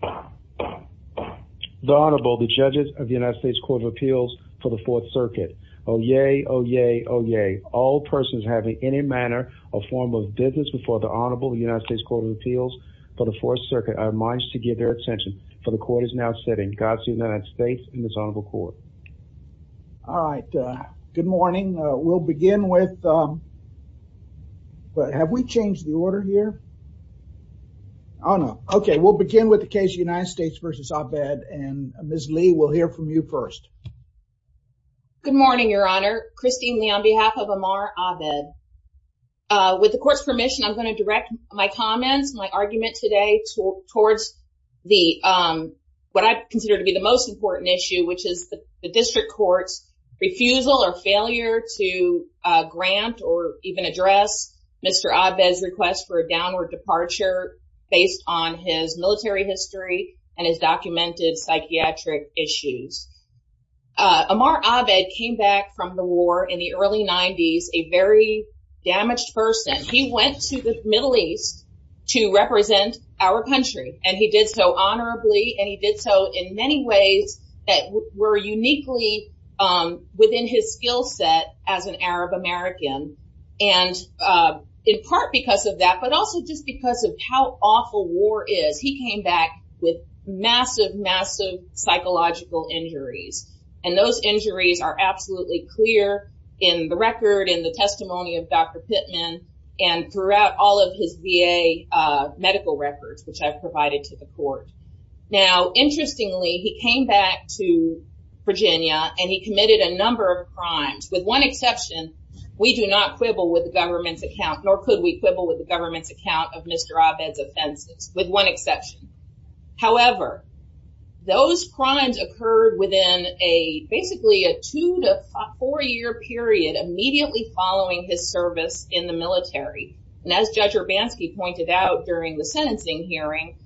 The Honorable the judges of the United States Court of Appeals for the Fourth Circuit. Oh yay, oh yay, oh yay. All persons having any manner or form of business before the Honorable the United States Court of Appeals for the Fourth Circuit are admonished to give their attention for the court is now sitting. God save the United States and this Honorable Court. All right, good morning. We'll begin with, but have we changed the order here? Oh no. Okay, we'll begin with the case United States v. Abed and Ms. Lee will hear from you first. Good morning, Your Honor. Christine Lee on behalf of Amar Abed. With the court's permission, I'm going to direct my comments, my argument today towards the, what I consider to be the most important issue, which is the district court's refusal or failure to grant or even address Mr. Abed's request for a downward departure based on his military history and his documented psychiatric issues. Amar Abed came back from the war in the early 90s a very damaged person. He went to the Middle East to represent our country and he did so honorably and he did so in many ways that were uniquely within his skill set as an Arab American and in part because of that, but also just because of how awful war is, he came back with massive massive psychological injuries and those injuries are absolutely clear in the record, in the testimony of Dr. Pittman and throughout all of his VA medical records which I've provided to the court. Now, interestingly, he came back to Virginia and he committed a number of crimes with one exception, we do not quibble with the government's account nor could we quibble with the government's account of Mr. Abed's offenses with one exception. However, those crimes occurred within a basically a two to four year period immediately following his service in the military and as Judge Urbanski pointed out during the sentencing hearing,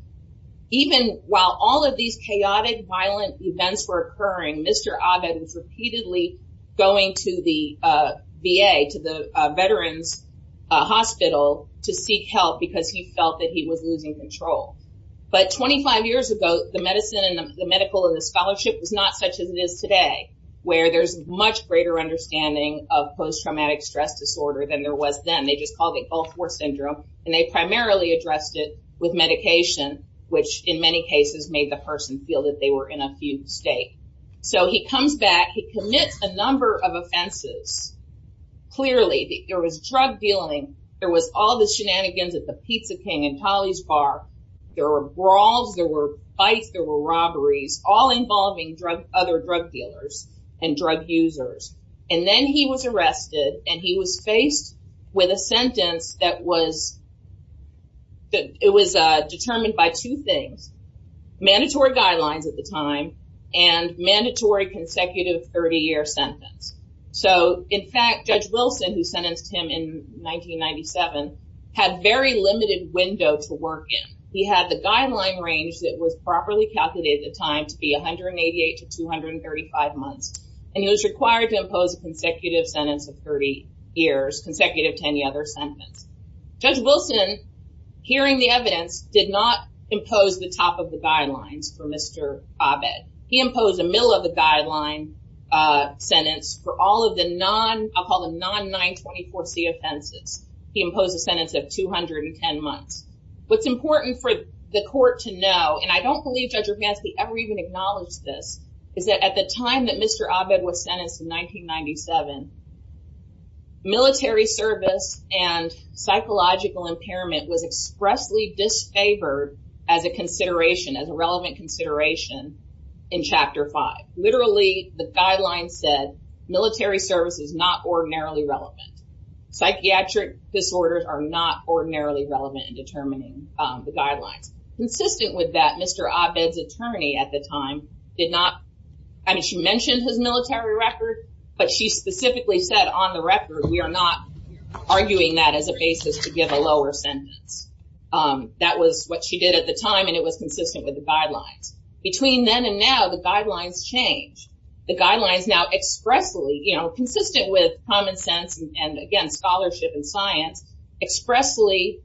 even while all of these chaotic violent events were occurring, Mr. Abed was repeatedly going to the VA, to the veterans hospital to seek help because he felt that he was losing control. But 25 years ago, the medicine and the medical and the scholarship was not such as it is today where there's much greater understanding of post-traumatic stress disorder than there was then. They just called it Gulf War Syndrome and they primarily addressed it with medication which in many cases made the person feel that they were in a fugue state. So he comes back, he commits a number of offenses. Clearly, there was drug dealing, there was all the shenanigans at the Pizza King and Holly's Bar, there were brawls, there were fights, there were robberies, all involving drug other drug dealers and drug users. And then he was arrested and he was faced with a sentence that was that it was determined by two things. Mandatory guidelines at the time and mandatory consecutive 30-year sentence. So in fact, Judge Wilson who sentenced him in 1997 had very limited window to work in. He had the guideline range that was properly calculated at the time to be 188 to 235 months and he was required to impose a consecutive sentence of 30 years consecutive to any other sentence. Judge Wilson, hearing the evidence, did not impose the top of the guidelines for Mr. Abed. He imposed a middle of the guideline sentence for all of the non, I'll call them non-924c offenses. He imposed a sentence of 210 months. What's important for the court to know and I don't believe Judge Rapansky ever even acknowledged this, is that at the time that Mr. Abed was sentenced in 1997, military service and psychological impairment was expressly disfavored as a consideration, as a relevant consideration in Chapter 5. Literally, the guidelines said military service is not ordinarily relevant. Psychiatric disorders are not ordinarily relevant in determining the guidelines. Consistent with that, Mr. Abed's attorney at the time did not, I mean she mentioned his military record, but she specifically said on the record we are not arguing that as a basis to give a lower sentence. That was what she did at the time and it was consistent with the guidelines. Between then and now, the guidelines change. The guidelines now expressly, you know, consistent with common sense and again scholarship and science, expressly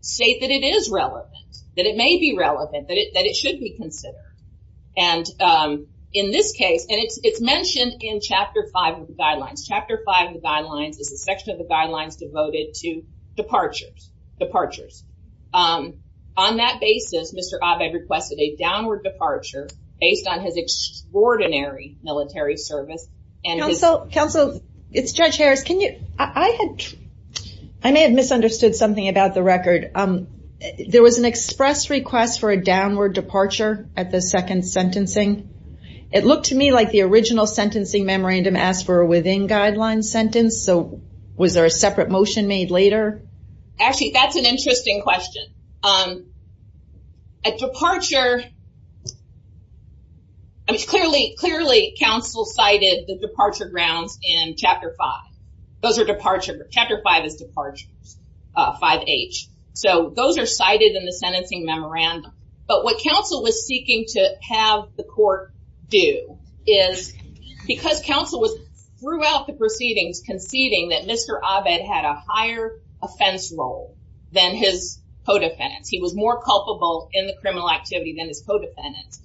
state that it is relevant, that it may be relevant, that it should be considered. And in this case, and it's mentioned in Chapter 5 of the guidelines, Chapter 5 of the guidelines is a section of the guidelines devoted to departures, departures. On that basis, Mr. Abed requested a downward departure based on his extraordinary military service. Counsel, it's Judge Harris, can you, I may have misunderstood something about the record. There was an express request for a downward departure at the second sentencing. It looked to me like the original sentencing memorandum asked for a within guidelines sentence, so was there a separate motion made later? Actually, that's an interesting question. At departure, clearly counsel cited the departure grounds in Chapter 5. Those are departure, Chapter 5 is departure, 5H. So those are cited in the sentencing memorandum, but what counsel was seeking to have the court do is because counsel was throughout the proceedings conceding that Mr. Abed had a higher offense role than his co-defendants. He was more culpable in the criminal activity than his co-defendants.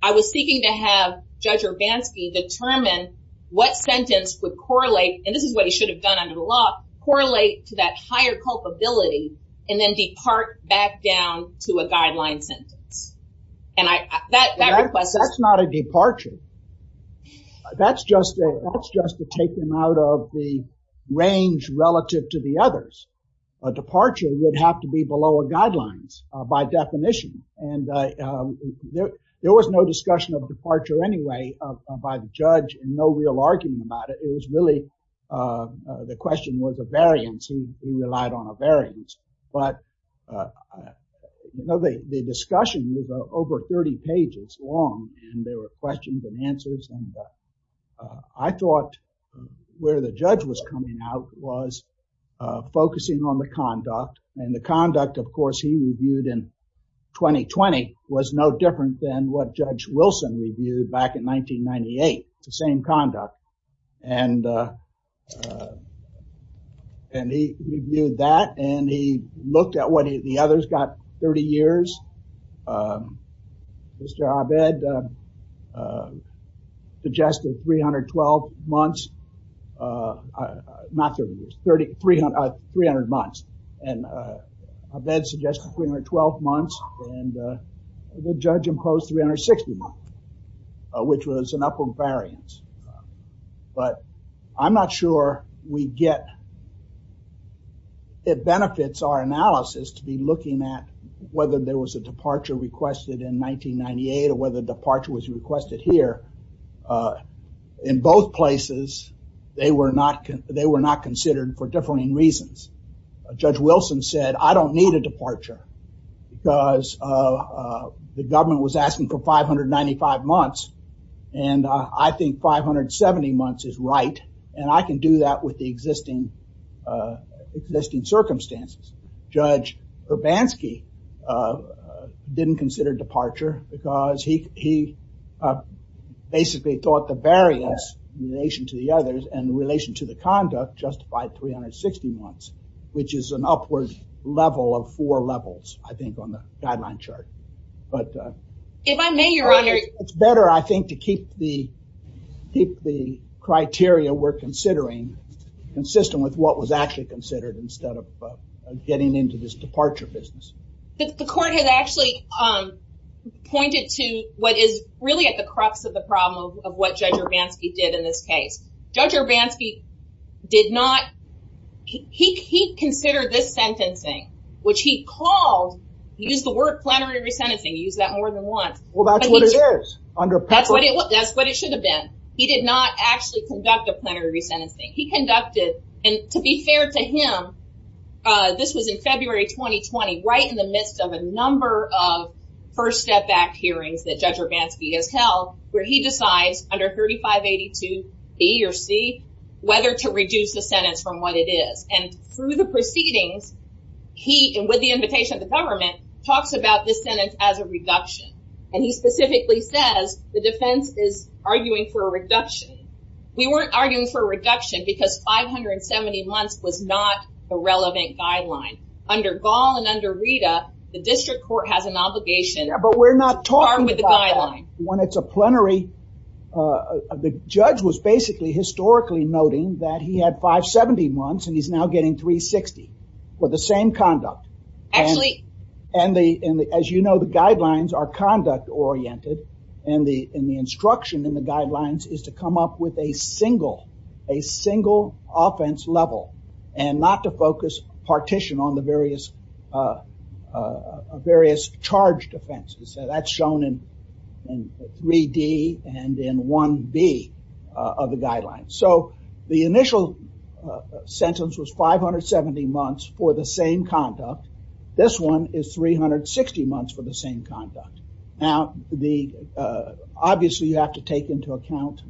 I was seeking to have Judge Urbanski determine what sentence would correlate, and this is what he should have done under the law, correlate to that higher culpability and then depart back down to a guideline sentence. And I, that request. That's not a departure. That's just a, that's just to take them out of the range relative to the others. A departure would have to be below a guidelines by definition and there was no discussion of departure anyway by the judge and no real argument about it. It was really, the question was a variance. He relied on a variance, but the discussion was over 30 pages long and there were questions and answers and I thought where the judge was coming out was focusing on the conduct and the conduct, of course, he reviewed back in 1998, the same conduct and, and he reviewed that and he looked at what he, the others got 30 years. Mr. Abed suggested 312 months, not 30 years, 30, 300, 300 months and Abed suggested 312 months and the judge imposed 360 months, which was an upward variance, but I'm not sure we get, it benefits our analysis to be looking at whether there was a departure requested in 1998 or whether departure was requested here. In both places, they were not, they were not considered for differing reasons. Judge Wilson said, I don't need a departure because the government was asking for 595 months and I think 570 months is right and I can do that with the existing, existing circumstances. Judge Urbanski didn't consider departure because he, he basically thought the variance in relation to the others and in relation to the conduct justified 360 months, which is an upward level of four levels, I think, on the guideline chart, but if I may, your honor, it's better, I think, to keep the, keep the criteria we're considering consistent with what was actually considered instead of getting into this departure business. The court has actually pointed to what is really at the crux of the problem of what Judge Urbanski did in this case. Judge Urbanski did not, he considered this sentencing, which he called, he used the word plenary resentencing, he used that more than once. Well, that's what it is, under PEPRA. That's what it should have been. He did not actually conduct a plenary resentencing. He conducted, and to be fair to him, this was in February 2020, right in the midst of a number of First Step Act hearings that he decides, under 3582B or C, whether to reduce the sentence from what it is, and through the proceedings, he, and with the invitation of the government, talks about this sentence as a reduction, and he specifically says the defense is arguing for a reduction. We weren't arguing for a reduction because 570 months was not a relevant guideline. Under Gall and under Rita, the district court has an obligation. Yeah, but we're not talking about that, when it's a plenary, the judge was basically historically noting that he had 570 months and he's now getting 360 for the same conduct. Actually, and the, as you know, the guidelines are conduct oriented, and the instruction in the guidelines is to come up with a single, a single offense level, and not to focus partition on the various, various charged offenses. That's shown in 3D and in 1B of the guidelines. So, the initial sentence was 570 months for the same conduct. This one is 360 months for the same conduct. Now, the, obviously you have to take into account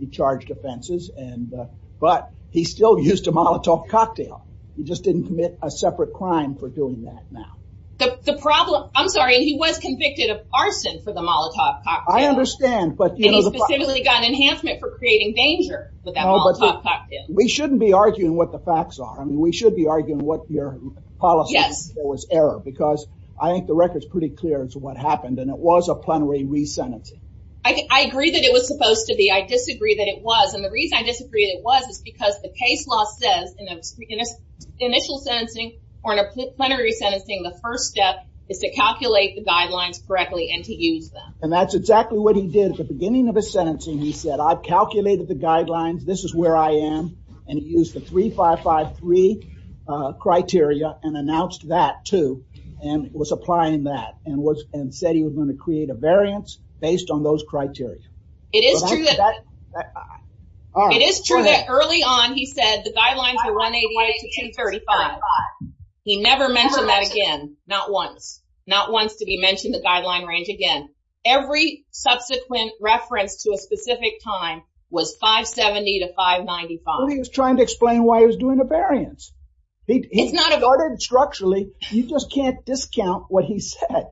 the charged offenses and, but he still used a Molotov cocktail. He just didn't commit a separate crime for doing that now. The problem, I'm sorry, he was convicted of arson for the Molotov cocktail. I understand, but you know. And he specifically got an enhancement for creating danger with that Molotov cocktail. We shouldn't be arguing what the facts are. I mean, we should be arguing what your policy was error, because I think the record's pretty clear as to what happened, and it was a plenary re-sentencing. I agree that it was supposed to be. I disagree that it was, and the reason I says in initial sentencing or in a plenary re-sentencing, the first step is to calculate the guidelines correctly and to use them. And that's exactly what he did at the beginning of his sentencing. He said, I've calculated the guidelines, this is where I am, and he used the 3553 criteria and announced that too, and was applying that, and was, and said he was going to create a variance based on the guidelines of 188 to 235. He never mentioned that again, not once. Not once did he mention the guideline range again. Every subsequent reference to a specific time was 570 to 595. Well, he was trying to explain why he was doing a variance. It's not a... He ordered structurally, you just can't discount what he said.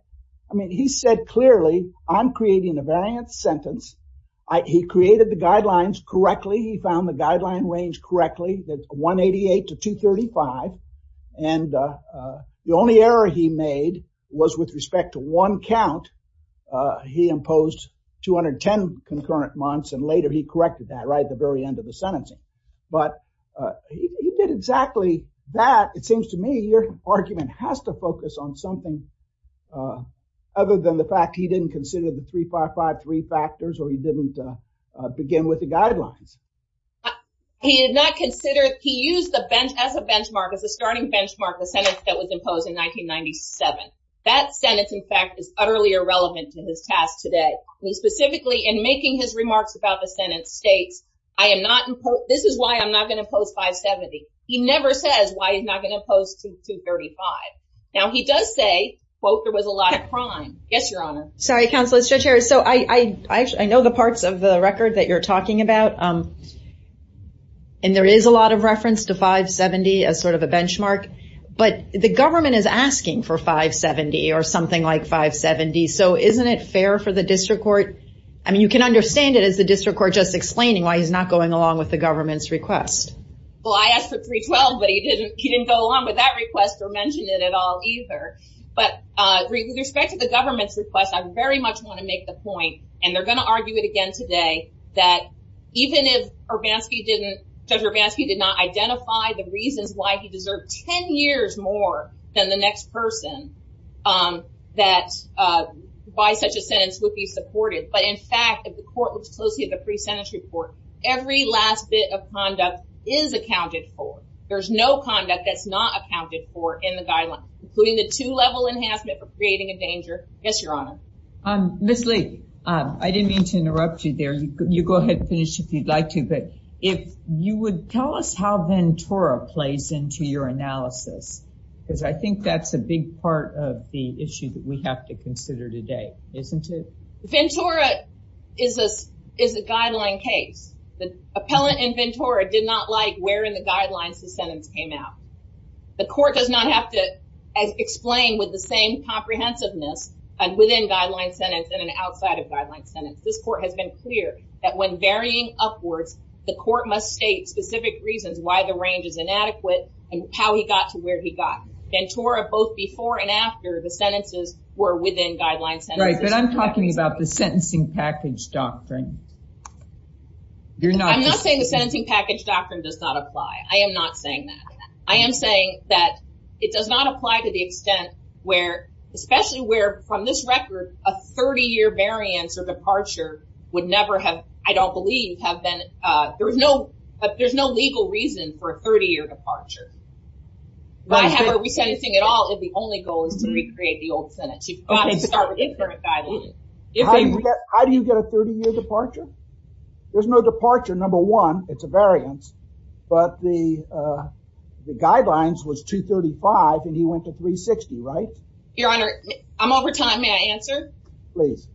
I mean, he said clearly, I'm creating a variance sentence. He created the guidelines correctly, he found the guideline range correctly, that's 188 to 235, and the only error he made was with respect to one count, he imposed 210 concurrent months, and later he corrected that right at the very end of the sentencing. But he did exactly that. It seems to me your argument has to focus on something other than the fact he didn't consider the 3553 factors, or he didn't begin with the guidelines. He did not consider, he used the bench, as a benchmark, as a starting benchmark, the sentence that was imposed in 1997. That sentence, in fact, is utterly irrelevant to his task today. He specifically, in making his remarks about the sentence, states, I am not, this is why I'm not going to impose 570. He never says why he's not going to impose 235. Now, he does say, quote, there was a lot of crime. Yes, Your Honor. Sorry, Counsel, it's Judge Harris. So, I know the and there is a lot of reference to 570 as sort of a benchmark, but the government is asking for 570, or something like 570, so isn't it fair for the District Court, I mean, you can understand it as the District Court just explaining why he's not going along with the government's request. Well, I asked for 312, but he didn't go along with that request or mention it at all, either. But, with respect to the government's request, I very much want to make the if Erbanski didn't, Judge Erbanski did not identify the reasons why he deserved 10 years more than the next person that, by such a sentence, would be supported. But, in fact, if the court looks closely at the pre-sentence report, every last bit of conduct is accounted for. There's no conduct that's not accounted for in the guideline, including the two-level enhancement for creating a danger. Yes, Your Honor. Ms. Lee, I didn't mean to interrupt you there. You go ahead and finish if you'd like to, but if you would tell us how Ventura plays into your analysis, because I think that's a big part of the issue that we have to consider today, isn't it? Ventura is a guideline case. The appellant in Ventura did not like where in the guidelines the sentence came out. The court does not have to explain with the same comprehensiveness and within guideline sentence and an outside of guideline sentence. This court has been clear that when varying upwards, the court must state specific reasons why the range is inadequate and how he got to where he got. Ventura, both before and after the sentences, were within guideline sentences. Right, but I'm talking about the sentencing package doctrine. I'm not saying the sentencing package doctrine does not apply. I am not saying that. I am saying that it does not apply to the extent where, especially where, from this record, a 30-year variance or never have, I don't believe, have been, there's no, there's no legal reason for a 30-year departure. Why have a resentencing at all if the only goal is to recreate the old sentence? You've got to start with the current guideline. How do you get a 30-year departure? There's no departure, number one, it's a variance, but the guidelines was 235 and he went to 360, right? Your Honor, I'm over time, may I answer? Please.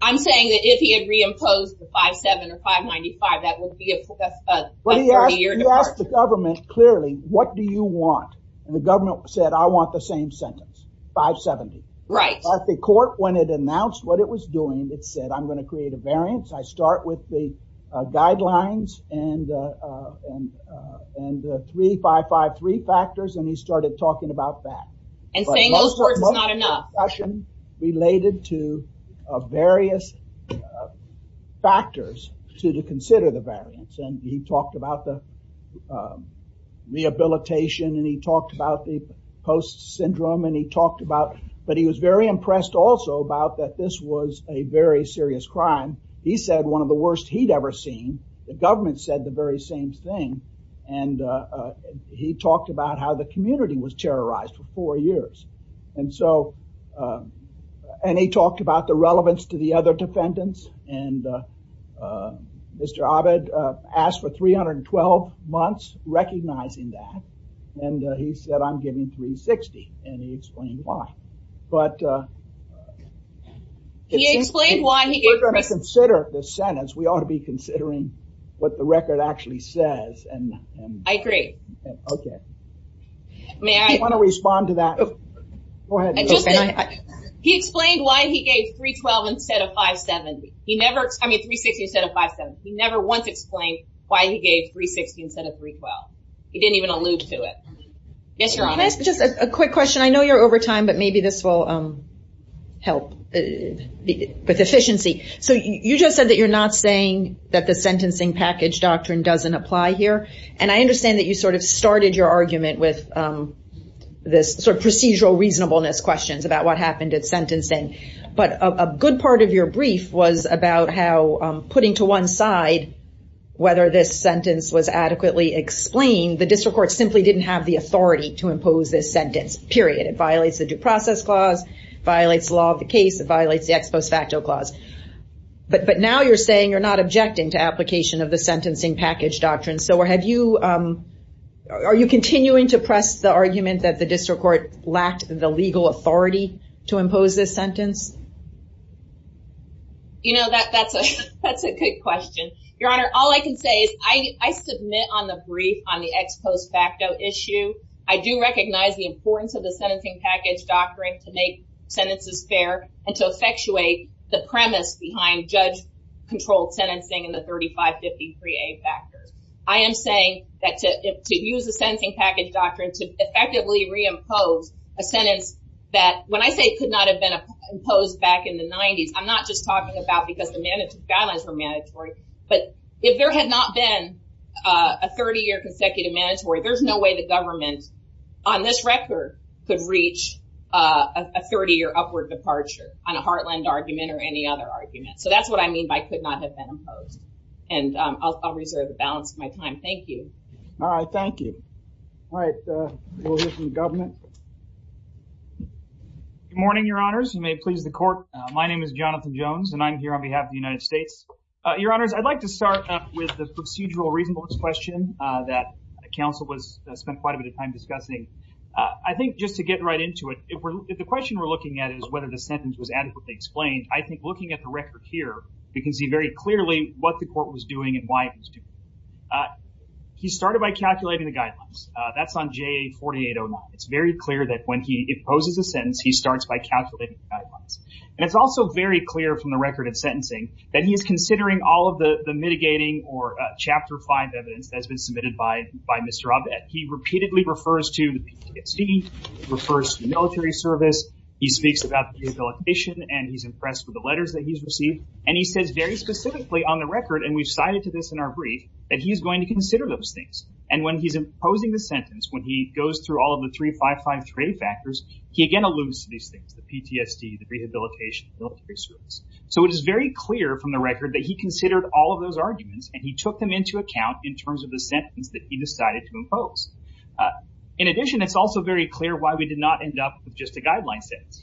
I'm saying that if he had reimposed the 5-7 or 5-95, that would be a 30-year departure. But he asked the government clearly, what do you want? And the government said, I want the same sentence, 5-70. Right. At the court, when it announced what it was doing, it said, I'm going to create a variance. I start with the guidelines and, and, and three, five, five, three factors and he started talking about that. And saying those were discussion related to various factors to consider the variance. And he talked about the rehabilitation and he talked about the post-syndrome and he talked about, but he was very impressed also about that this was a very serious crime. He said one of the worst he'd ever seen. The government said the very same thing. And he talked about how the community was terrorized for four years. And so, and he talked about the relevance to the other defendants and Mr. Abed asked for 312 months recognizing that. And he said, I'm giving 360. And he explained why. But he explained why. We're going to consider the sentence. We ought to be considering what the record actually says. And I agree. Okay. May I want to respond to that? Go ahead. He explained why he gave 312 instead of 570. He never, I mean, 360 instead of 570. He never once explained why he gave 360 instead of 312. He didn't even allude to it. Yes, Your Honor. Just a quick question. I know you're over time, but maybe this will help with efficiency. So you just said that you're not saying that the sentencing package doctrine doesn't apply here. And I understand that you sort of started your argument with this sort of procedural reasonableness questions about what happened at sentencing. But a good part of your brief was about how putting to one side whether this sentence was adequately explained, the district court simply didn't have the authority to impose this sentence, period. It violates the due process clause, violates the law of the case, it violates the ex post facto clause. But now you're saying you're not objecting to application of the sentencing package doctrine. So are you continuing to press the argument that the district court lacked the legal authority to impose this sentence? You know, that's a good question. Your Honor, all I can say is I submit on the brief on the ex post facto issue. I do recognize the importance of the sentencing package doctrine to make sentences fair and to effectuate the premise behind judge-controlled sentencing and the 3553A factors. I am saying that to use the sentencing package doctrine to effectively reimpose a sentence that, when I say could not have been imposed back in the 90s, I'm not just talking about because the guidelines were mandatory. But if there had not been a 30-year consecutive mandatory, there's no way the government, on this record, could reach a 30-year upward departure on a Heartland argument or any other argument. So that's what I mean by could not have been imposed. And I'll reserve the balance of my time. Thank you. All right. Thank you. All right. We'll hear from the government. Good morning, Your Honors. You may please the court. My name is Jonathan Jones, and I'm here on behalf of the United States. Your Honors, I'd like to start up with the procedural reasonableness question that counsel spent quite a bit of time discussing. I think just to get right into it, if the question we're looking at is whether the sentence was adequately explained, I think looking at the record here, we can see very clearly what the court was doing and why it was doing it. He started by calculating the guidelines. That's on JA 4809. It's very clear that when he imposes a sentence, he starts by calculating the guidelines. And it's also very clear from the record of sentencing that he is considering all of the mitigating or Chapter 5 evidence that has been submitted by Mr. Abed. He repeatedly refers to the PTSD, refers to military service. He speaks about rehabilitation, and he's impressed with the letters that he's received. And he says very specifically on the record, and we've cited to this in our brief, that he is going to consider those things. And when he's imposing the sentence, when he goes through all of the 3553 factors, he again alludes to these things, the PTSD, the rehabilitation, military service. So it is very clear from the record that he considered all of those arguments, and he took them into account in terms of the sentence that he decided to impose. In addition, it's also very clear why we did not end up with just a guideline sentence.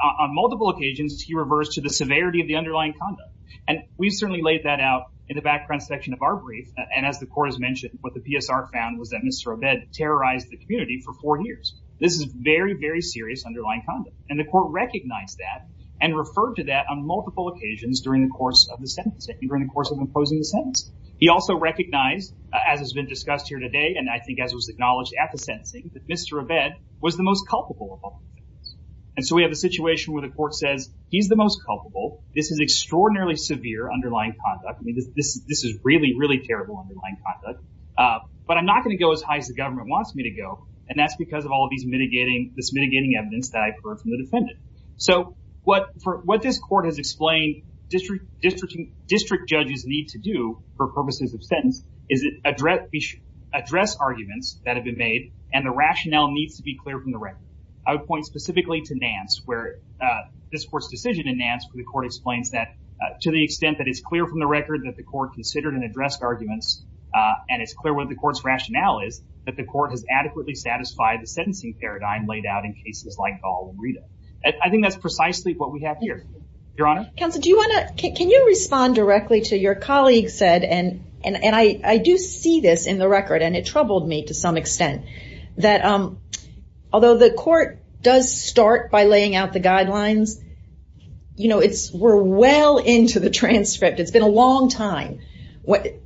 On multiple occasions, he reversed to the severity of the underlying conduct. And we've certainly laid that out in the background section of our brief. And as the court has mentioned, what the PSR found was that Mr. Abed terrorized the community for four years. This is very, very serious underlying conduct. And the court recognized that and referred to that on multiple occasions during the course of the sentence, during the course of imposing the sentence. He also recognized, as has been discussed here today, and I think as was acknowledged at the sentencing, that Mr. Abed was the most culpable of all of these things. And so we have a situation where the court says he's the most culpable. This is extraordinarily severe underlying conduct. I mean, this is really, really terrible underlying conduct. But I'm not going to go as high as the this mitigating evidence that I've heard from the defendant. So what this court has explained district judges need to do for purposes of sentence is address arguments that have been made, and the rationale needs to be clear from the record. I would point specifically to Nance, where this court's decision in Nance, where the court explains that to the extent that it's clear from the record that the court considered and addressed arguments, and it's clear what the rationale is, that the court has adequately satisfied the sentencing paradigm laid out in cases like Gall and Rita. I think that's precisely what we have here. Your Honor? Counsel, do you want to, can you respond directly to your colleague said, and I do see this in the record, and it troubled me to some extent, that although the court does start by laying out the guidelines, you know, it's, we're well into the transcript. It's been a long time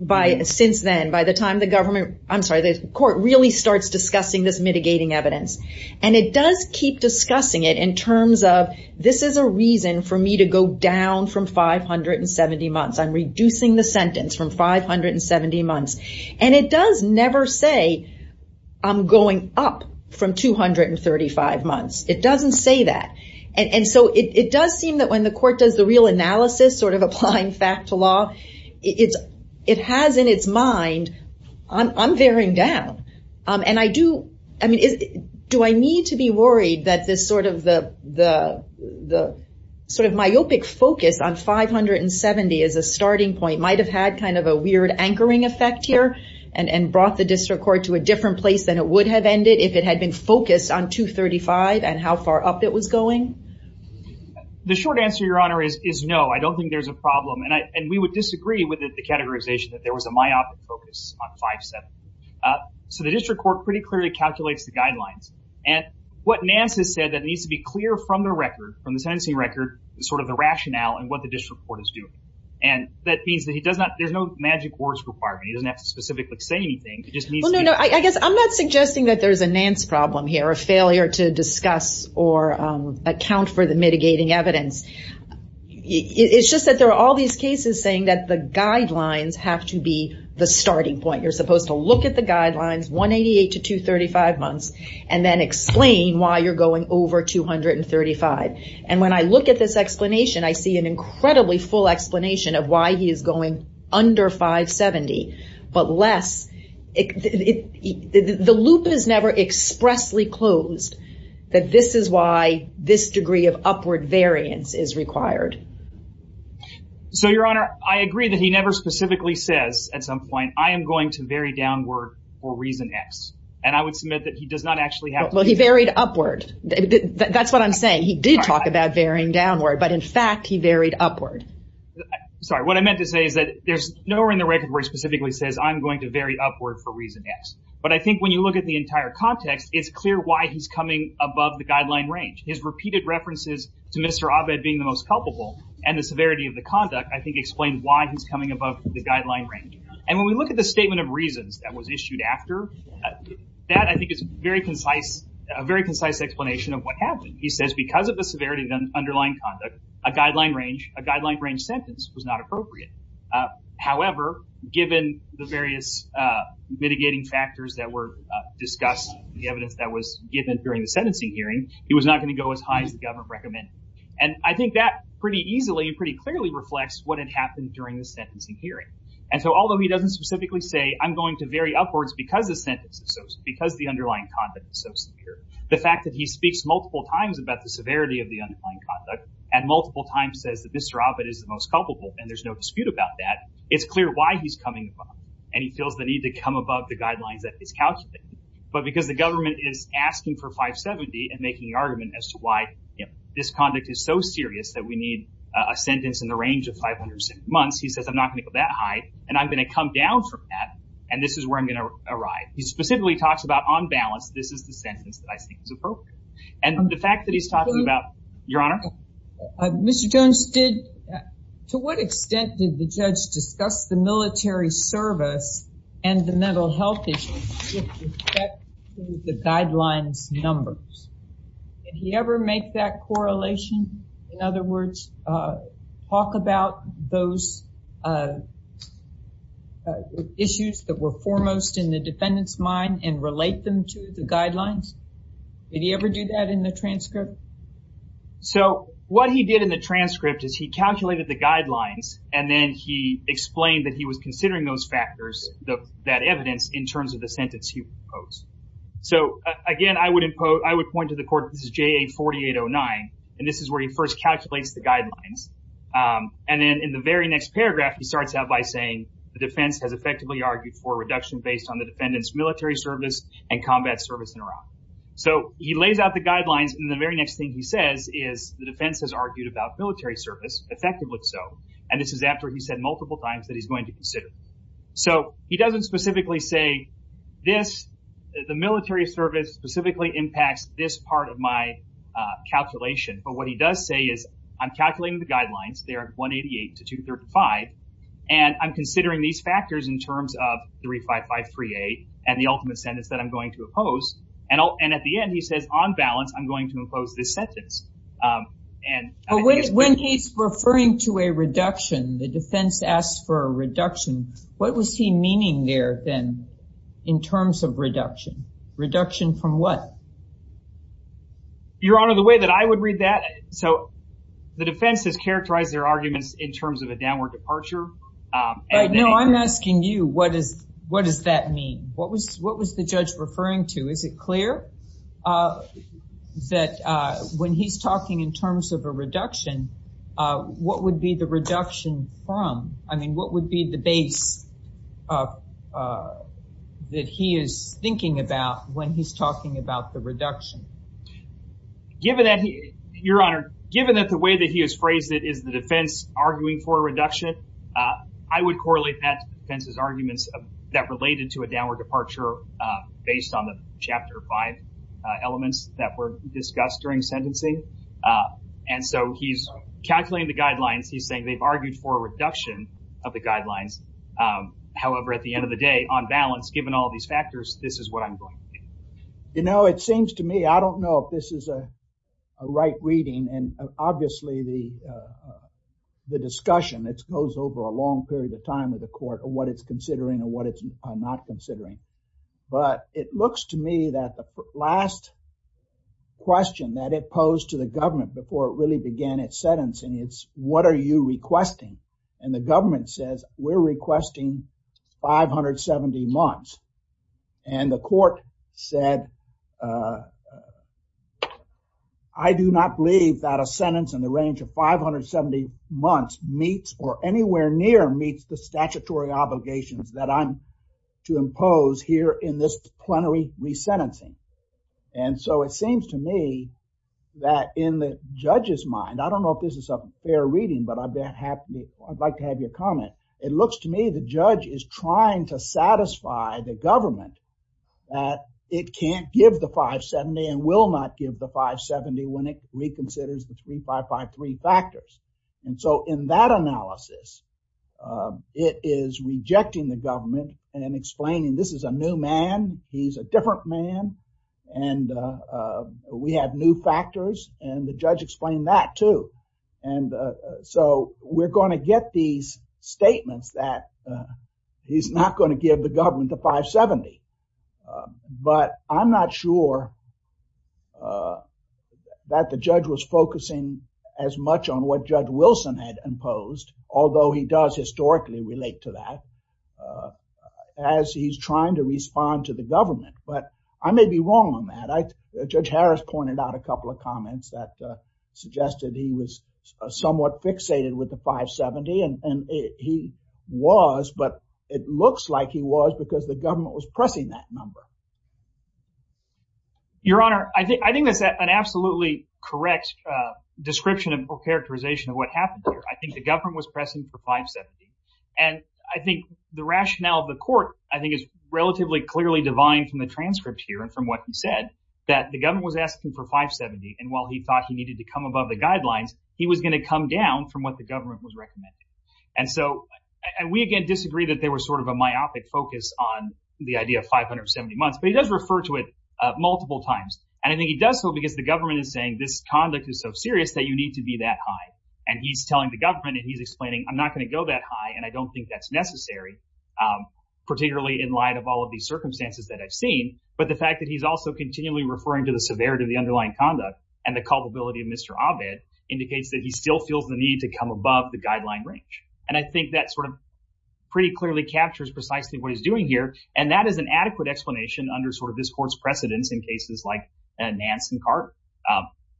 by, since then, by the time the government, I'm sorry, the court really starts discussing this mitigating evidence, and it does keep discussing it in terms of this is a reason for me to go down from 570 months. I'm reducing the sentence from 570 months, and it does never say I'm going up from 235 months. It doesn't say that, and so it does seem that when the court does the real analysis, sort of applying fact to law, it has in its mind, I'm veering down, and I do, I mean, do I need to be worried that this sort of myopic focus on 570 as a starting point might have had kind of a weird anchoring effect here, and brought the district court to a different place than it would have ended if it had been focused on 235 and how far up it was going? The short answer, Your Honor, is no. I don't think there's a problem, and we would disagree with the categorization that there was a myopic focus on 570, so the district court pretty clearly calculates the guidelines, and what Nance has said that needs to be clear from the record, from the sentencing record, is sort of the rationale and what the district court is doing, and that means that he does not, there's no magic words requirement. He doesn't have to specifically say anything. It just means, no, no, I guess I'm not suggesting that there's a Nance problem here, a failure to discuss or account for the mitigating evidence. It's just that there are all these cases saying that the guidelines have to be the starting point. You're supposed to look at the guidelines, 188 to 235 months, and then explain why you're going over 235, and when I look at this explanation, I see an incredibly full explanation of why he is going under 570, but less. The loop is never expressly closed that this is why this degree of upward variance is required. So, your honor, I agree that he never specifically says at some point, I am going to vary downward for reason X, and I would submit that he does not actually have Well, he varied upward. That's what I'm saying. He did talk about varying downward, but in fact, he varied upward. Sorry, what I meant to say is that there's nowhere in the record where he specifically says, I'm going to vary upward for reason X, but I think when you look at the entire context, it's clear why he's coming above the guideline range. His repeated references to Mr. Abed being the most culpable and the severity of the conduct, I think, explain why he's coming above the guideline range, and when we look at the statement of reasons that was issued after, that, I think, is a very concise explanation of what happened. He says because of the severity of the underlying conduct, a guideline range sentence was not appropriate. However, given the various mitigating factors that were discussed, the evidence that was given during the sentencing hearing, it was not going to go as high as the government recommended, and I think that pretty easily and pretty clearly reflects what had happened during the sentencing hearing, and so although he doesn't specifically say, I'm going to vary upwards because the sentence is so, because the underlying conduct is so secure, the fact that he speaks multiple times about the severity of the underlying conduct and multiple times says that Mr. Abed is the most culpable, and there's no dispute about that, it's clear why he's coming above, and he feels the need to come above the guidelines that is calculated, but because the government is asking for 570 and making the argument as to why, you know, this conduct is so serious that we need a sentence in the range of 500 months, he says I'm not going to go that high, and I'm going to come down from that, and this is where I'm going to arrive. He specifically talks about on balance, this is the sentence that I think is appropriate, and the fact that he's talking about, Your Honor? Mr. Jones did, to what extent did the judge discuss the military service and the mental health issues the guidelines numbers? Did he ever make that correlation? In other words, talk about those issues that were foremost in the defendant's mind and relate them to the guidelines? Did he ever do that in the transcript? So, what he did in the transcript is he calculated the guidelines, and then he explained that he was considering those factors, that evidence, in terms of the sentence he proposed. So, again, I would point to the court, this is JA 4809, and this is where he first calculates the guidelines, and then in the very next paragraph, he starts out by saying the defense has effectively argued for a reduction based on the defendant's military service and combat service in Iraq. So, he lays out the guidelines, and the very next thing he says is the defense has argued about military service, effectively so, and this is after he's said multiple times that he's going to consider. So, he doesn't specifically say this, the military service specifically impacts this part of my calculation, but what he does say is, I'm calculating the guidelines, they are 188 to 235, and I'm considering these factors in terms of 35538, and the ultimate sentence that I'm going to oppose, and at the end, he says on balance, I'm going to impose this sentence. And when he's referring to a reduction, the defense asks for a reduction, what was he meaning there then, in terms of reduction? Reduction from what? Your Honor, the way that I would read that, so the defense has characterized their arguments in terms of a downward departure. No, I'm asking you, what does that mean? What was the judge referring to? Is it clear that when he's talking in terms of a reduction, what would be the reduction from? I mean, what would be the base that he is thinking about when he's talking about the reduction? Given that, Your Honor, given that the way that he has phrased it is the defense arguing for a reduction, I would correlate that defense's arguments that related to a downward departure based on the Chapter 5 elements that were discussed during sentencing. And so, he's calculating the guidelines, he's saying they've argued for a reduction of the guidelines. However, at the end of the day, on balance, given all these factors, this is what I'm going to think. You know, it seems to me, I don't know if this is a right reading. And obviously, the discussion, it goes over a long period of time with the court on what it's considering and what it's not considering. But it looks to me that the last question that it posed to the government before it really began its sentencing, it's what are you and the court said, I do not believe that a sentence in the range of 570 months meets or anywhere near meets the statutory obligations that I'm to impose here in this plenary resentencing. And so, it seems to me that in the judge's mind, I don't know if this is a fair reading, but I'd like to have your comment. It looks to me the judge is trying to satisfy the government that it can't give the 570 and will not give the 570 when it reconsiders the 3553 factors. And so, in that analysis, it is rejecting the government and explaining this is a new man, he's a different man, and we have new factors, and the judge explained that too. And so, we're getting these statements that he's not going to give the government the 570. But I'm not sure that the judge was focusing as much on what Judge Wilson had imposed, although he does historically relate to that as he's trying to respond to the government. But I may be wrong on that. Judge Harris pointed out a couple of comments that suggested he was somewhat fixated with the 570, and he was, but it looks like he was because the government was pressing that number. Your Honor, I think that's an absolutely correct description and characterization of what happened here. I think the government was pressing for 570. And I think the rationale of the court, I think, is relatively clearly divine from the transcript here and from what he said, that the government was asking for 570. And while he thought he needed to come above the guidelines, he was going to come down from what the government was recommending. And so, and we, again, disagree that there was sort of a myopic focus on the idea of 570 months, but he does refer to it multiple times. And I think he does so because the government is saying this conduct is so serious that you need to be that high. And he's telling the government, and he's explaining, I'm not going to go that high, and I don't think that's necessary, particularly in light of all of these circumstances that I've seen. But the fact that he's also continually referring to the severity of the underlying conduct and the culpability of Mr. Abed indicates that he still feels the need to come above the guideline range. And I think that sort of pretty clearly captures precisely what he's doing here. And that is an adequate explanation under sort of this court's precedence in cases like Nance and Carte.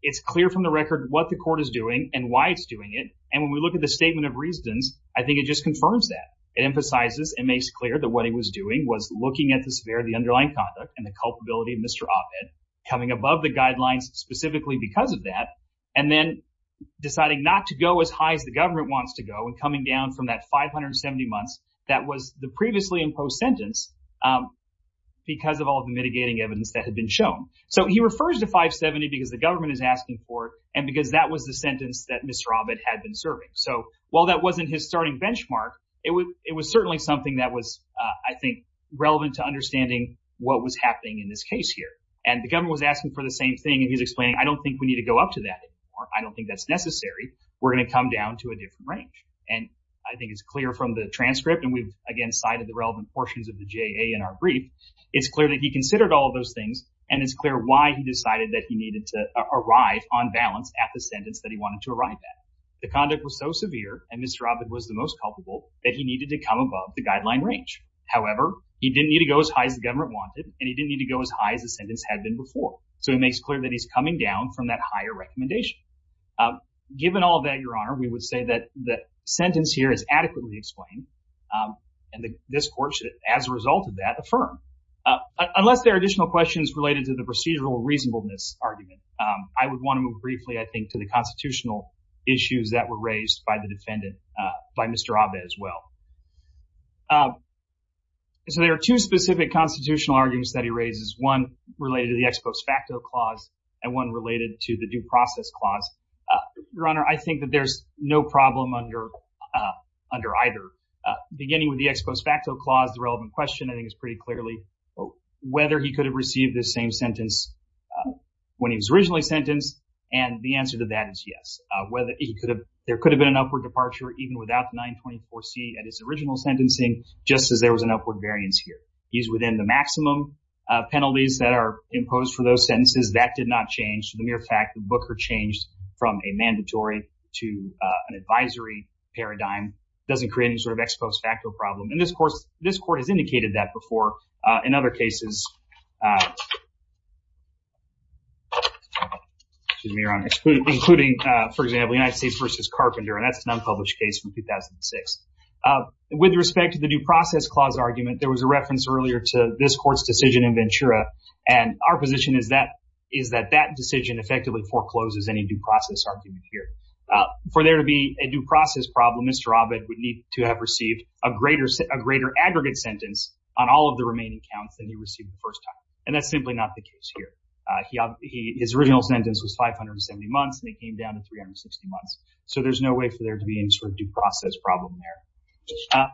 It's clear from the record what the court is doing and why it's doing it. And when we look at the statement of reasons, I think it just confirms that. It emphasizes and makes clear that what he was doing was looking at the severity of the underlying conduct and the culpability of Mr. Abed coming above the guidelines specifically because of that and then deciding not to go as high as the government wants to go and coming down from that 570 months that was the previously imposed sentence because of all the mitigating evidence that had been shown. So he refers to 570 because the government is asking for it and because that was the sentence that Mr. Abed had been serving. So while that wasn't his starting benchmark, it was certainly something that was, I think, relevant to understanding what was happening in this case here. And the government was asking for the same thing and he's explaining, I don't think we need to go up to that anymore. I don't think that's necessary. We're going to come down to a different range. And I think it's clear from the transcript and we've again cited the relevant portions of the JA in our brief. It's clear that he considered all of those things and it's clear why he decided that he needed to arrive on balance at the sentence that he wanted to arrive at. The conduct was so severe and Mr. Abed had to come above the guideline range. However, he didn't need to go as high as the government wanted and he didn't need to go as high as the sentence had been before. So it makes clear that he's coming down from that higher recommendation. Given all of that, Your Honor, we would say that the sentence here is adequately explained and this court should, as a result of that, affirm. Unless there are additional questions related to the procedural reasonableness argument, I would want to move briefly, I think, to the constitutional issues that were raised by the defendant, by Mr. Abed as well. So there are two specific constitutional arguments that he raises, one related to the ex post facto clause and one related to the due process clause. Your Honor, I think that there's no problem under either. Beginning with the ex post facto clause, the relevant question I think is pretty clearly whether he could have received the same sentence when he was originally sentenced and the answer to that is yes. Whether he could have, there could have been an upward departure even without 924C at his original sentencing, just as there was an upward variance here. He's within the maximum penalties that are imposed for those sentences. That did not change. The mere fact that Booker changed from a mandatory to an advisory paradigm doesn't create any sort of ex post facto problem and this course, this court has indicated that before in other cases, uh, excuse me, Your Honor, including, for example, United States versus Carpenter and that's an unpublished case from 2006. With respect to the due process clause argument, there was a reference earlier to this court's decision in Ventura and our position is that, is that that decision effectively forecloses any due process argument here. For there to be a due process problem, Mr. Abed would need to have received a greater aggregate sentence on all of the remaining counts than he received the first time and that's simply not the case here. Uh, he, his original sentence was 570 months and he came down to 360 months. So there's no way for there to be any sort of due process problem there. Uh,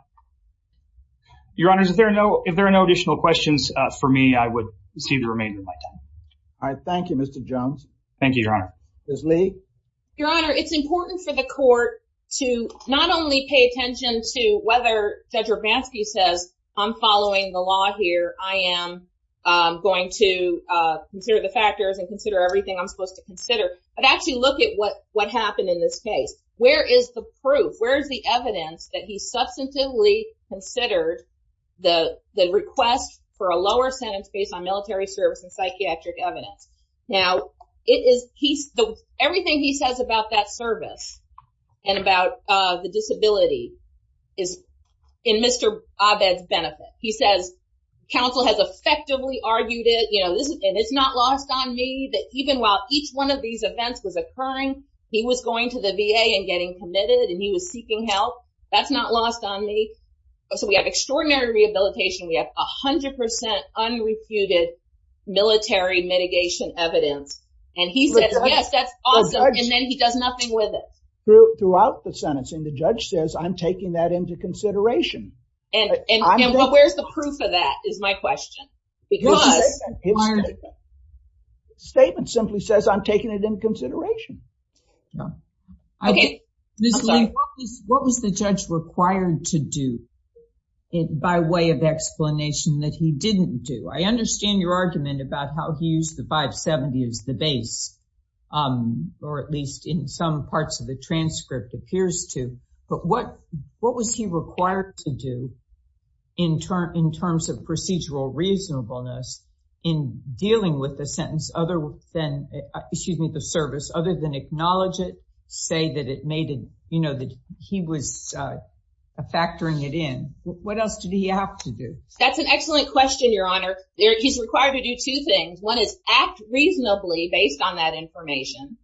Your Honor, if there are no, if there are no additional questions, uh, for me, I would see the remainder of my time. All right. Thank you, Mr. Jones. Thank you, Your Honor. Ms. Lee. Your Honor, it's important for the court to not only pay attention to what Mr. Bansky says, I'm following the law here, I am, um, going to, uh, consider the factors and consider everything I'm supposed to consider, but actually look at what, what happened in this case. Where is the proof? Where is the evidence that he substantively considered the, the request for a lower sentence based on military service and psychiatric evidence? Now, it is, he's, the, everything he says about that service and about, uh, the disability is in Mr. Abed's benefit. He says, counsel has effectively argued it, you know, this is, and it's not lost on me that even while each one of these events was occurring, he was going to the VA and getting committed and he was seeking help. That's not lost on me. So we have extraordinary rehabilitation. We have a hundred percent unrefuted military mitigation evidence. And he says, yes, that's awesome. And then he does nothing with it. Throughout the sentencing, the judge says, I'm taking that into consideration. And, and, and where's the proof of that is my question. Because his statement simply says, I'm taking it into consideration. Okay. Ms. Lee, what was the judge required to do by way of explanation that he didn't do? I understand your argument about how he used the 570 as the base, um, or at least in some parts of the transcript appears to, but what, what was he required to do in terms, in terms of procedural reasonableness in dealing with the sentence other than, excuse me, the service, other than acknowledge it, say that it made it, you know, that he was factoring it in. What else did he have to do? That's an excellent question, your honor. He's required to do two things. One is act reasonably based on that information.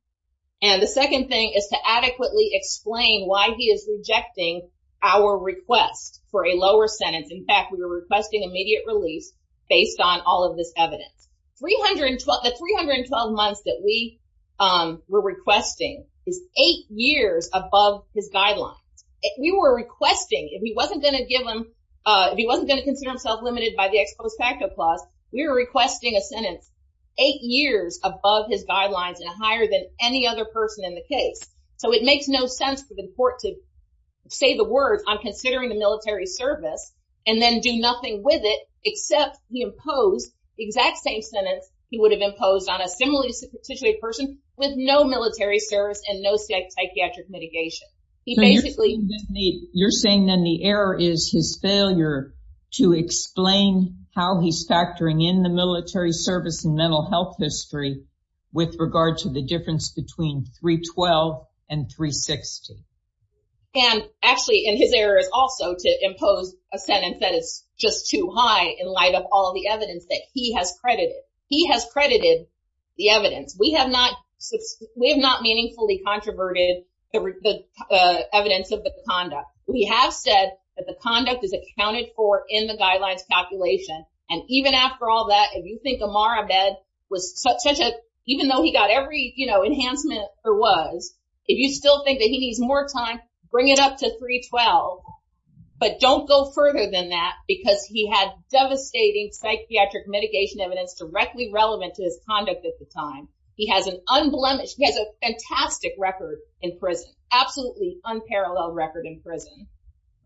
And the second thing is to adequately explain why he is rejecting our request for a lower sentence. In fact, we were requesting immediate release based on all of this evidence. 312, the 312 months that we, um, were requesting is eight years above his guidelines. We were requesting, if he wasn't going to give him, uh, if he wasn't going to consider himself limited by the ex post facto clause, we were requesting a sentence eight years above his guidelines and higher than any other person in the case. So it makes no sense for the court to say the words, I'm considering the military service and then do nothing with it, except he imposed the exact same sentence. He would have imposed on a similarly situated person with no military service and no psychiatric mitigation. He basically, you're saying then the error is his failure to explain how he's factoring in the military service and mental health history with regard to the difference between 312 and 360. And actually, and his error is also to impose a sentence that is just too high in light of all the evidence that he has credited. He has credited the evidence. We have not, we have not meaningfully controverted the evidence of the conduct. We have said that the conduct is accounted for in the guidelines calculation. And even after all that, if you think Amar Ahmed was such a, even though he got every, you know, enhancement there was, if you still think that he needs more time, bring it up to 312, but don't go further than that because he had devastating psychiatric mitigation evidence directly relevant to his conduct at the time. He has an unblemished, he has a fantastic record in prison, absolutely unparalleled record in prison.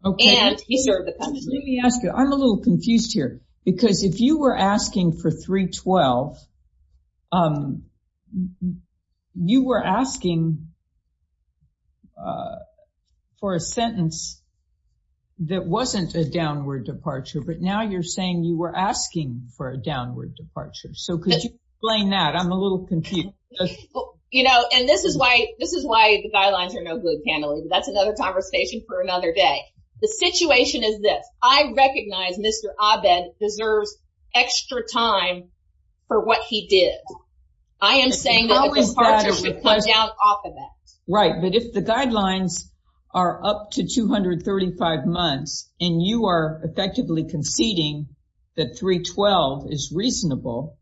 And he served the country. Let me ask you, I'm a little confused here because if you were asking for 312, um, you were asking for a sentence that wasn't a downward departure, but now you're saying you were asking for a downward departure. So could you explain that? I'm a little confused. You know, and this is why, this is why the guidelines are no good, Pamela. That's another conversation for another day. The situation is this, I recognize Mr. Ahmed deserves extra time for what he did. I am saying that the departure should come down off of that. Right. But if the guidelines are up to 235 months and you are effectively conceding that 312 is reasonable,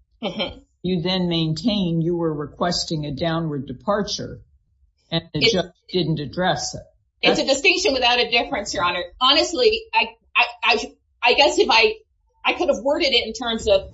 you then maintain you were requesting a downward departure and the judge didn't address it. It's a distinction without a difference, honestly, I guess if I, I could have worded it in terms of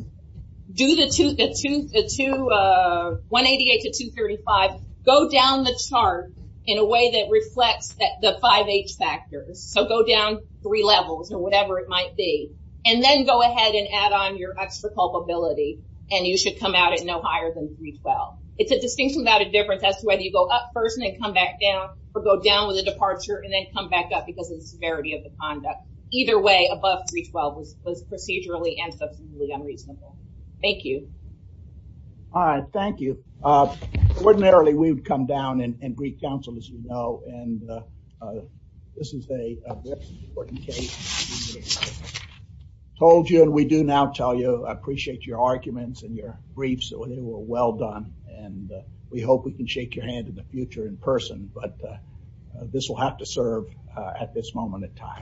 do the two, the two, the two, uh, 188 to 235, go down the chart in a way that reflects that the five H factors. So go down three levels or whatever it might be, and then go ahead and add on your extra culpability. And you should come out at no higher than 312. It's a distinction without a difference as to whether you go up first and then come back down or go down with a departure and then come back up because of the severity of the conduct. Either way above 312 was procedurally and substantially unreasonable. Thank you. All right. Thank you. Uh, ordinarily we would come down and Greek council, as you know, and, uh, uh, this is a very important case. Told you, and we do now tell you, I appreciate your arguments and your briefs. So they were well done and, uh, we hope we can shake your hand in the future in person, but, uh, this will have to serve, uh, at this moment in time.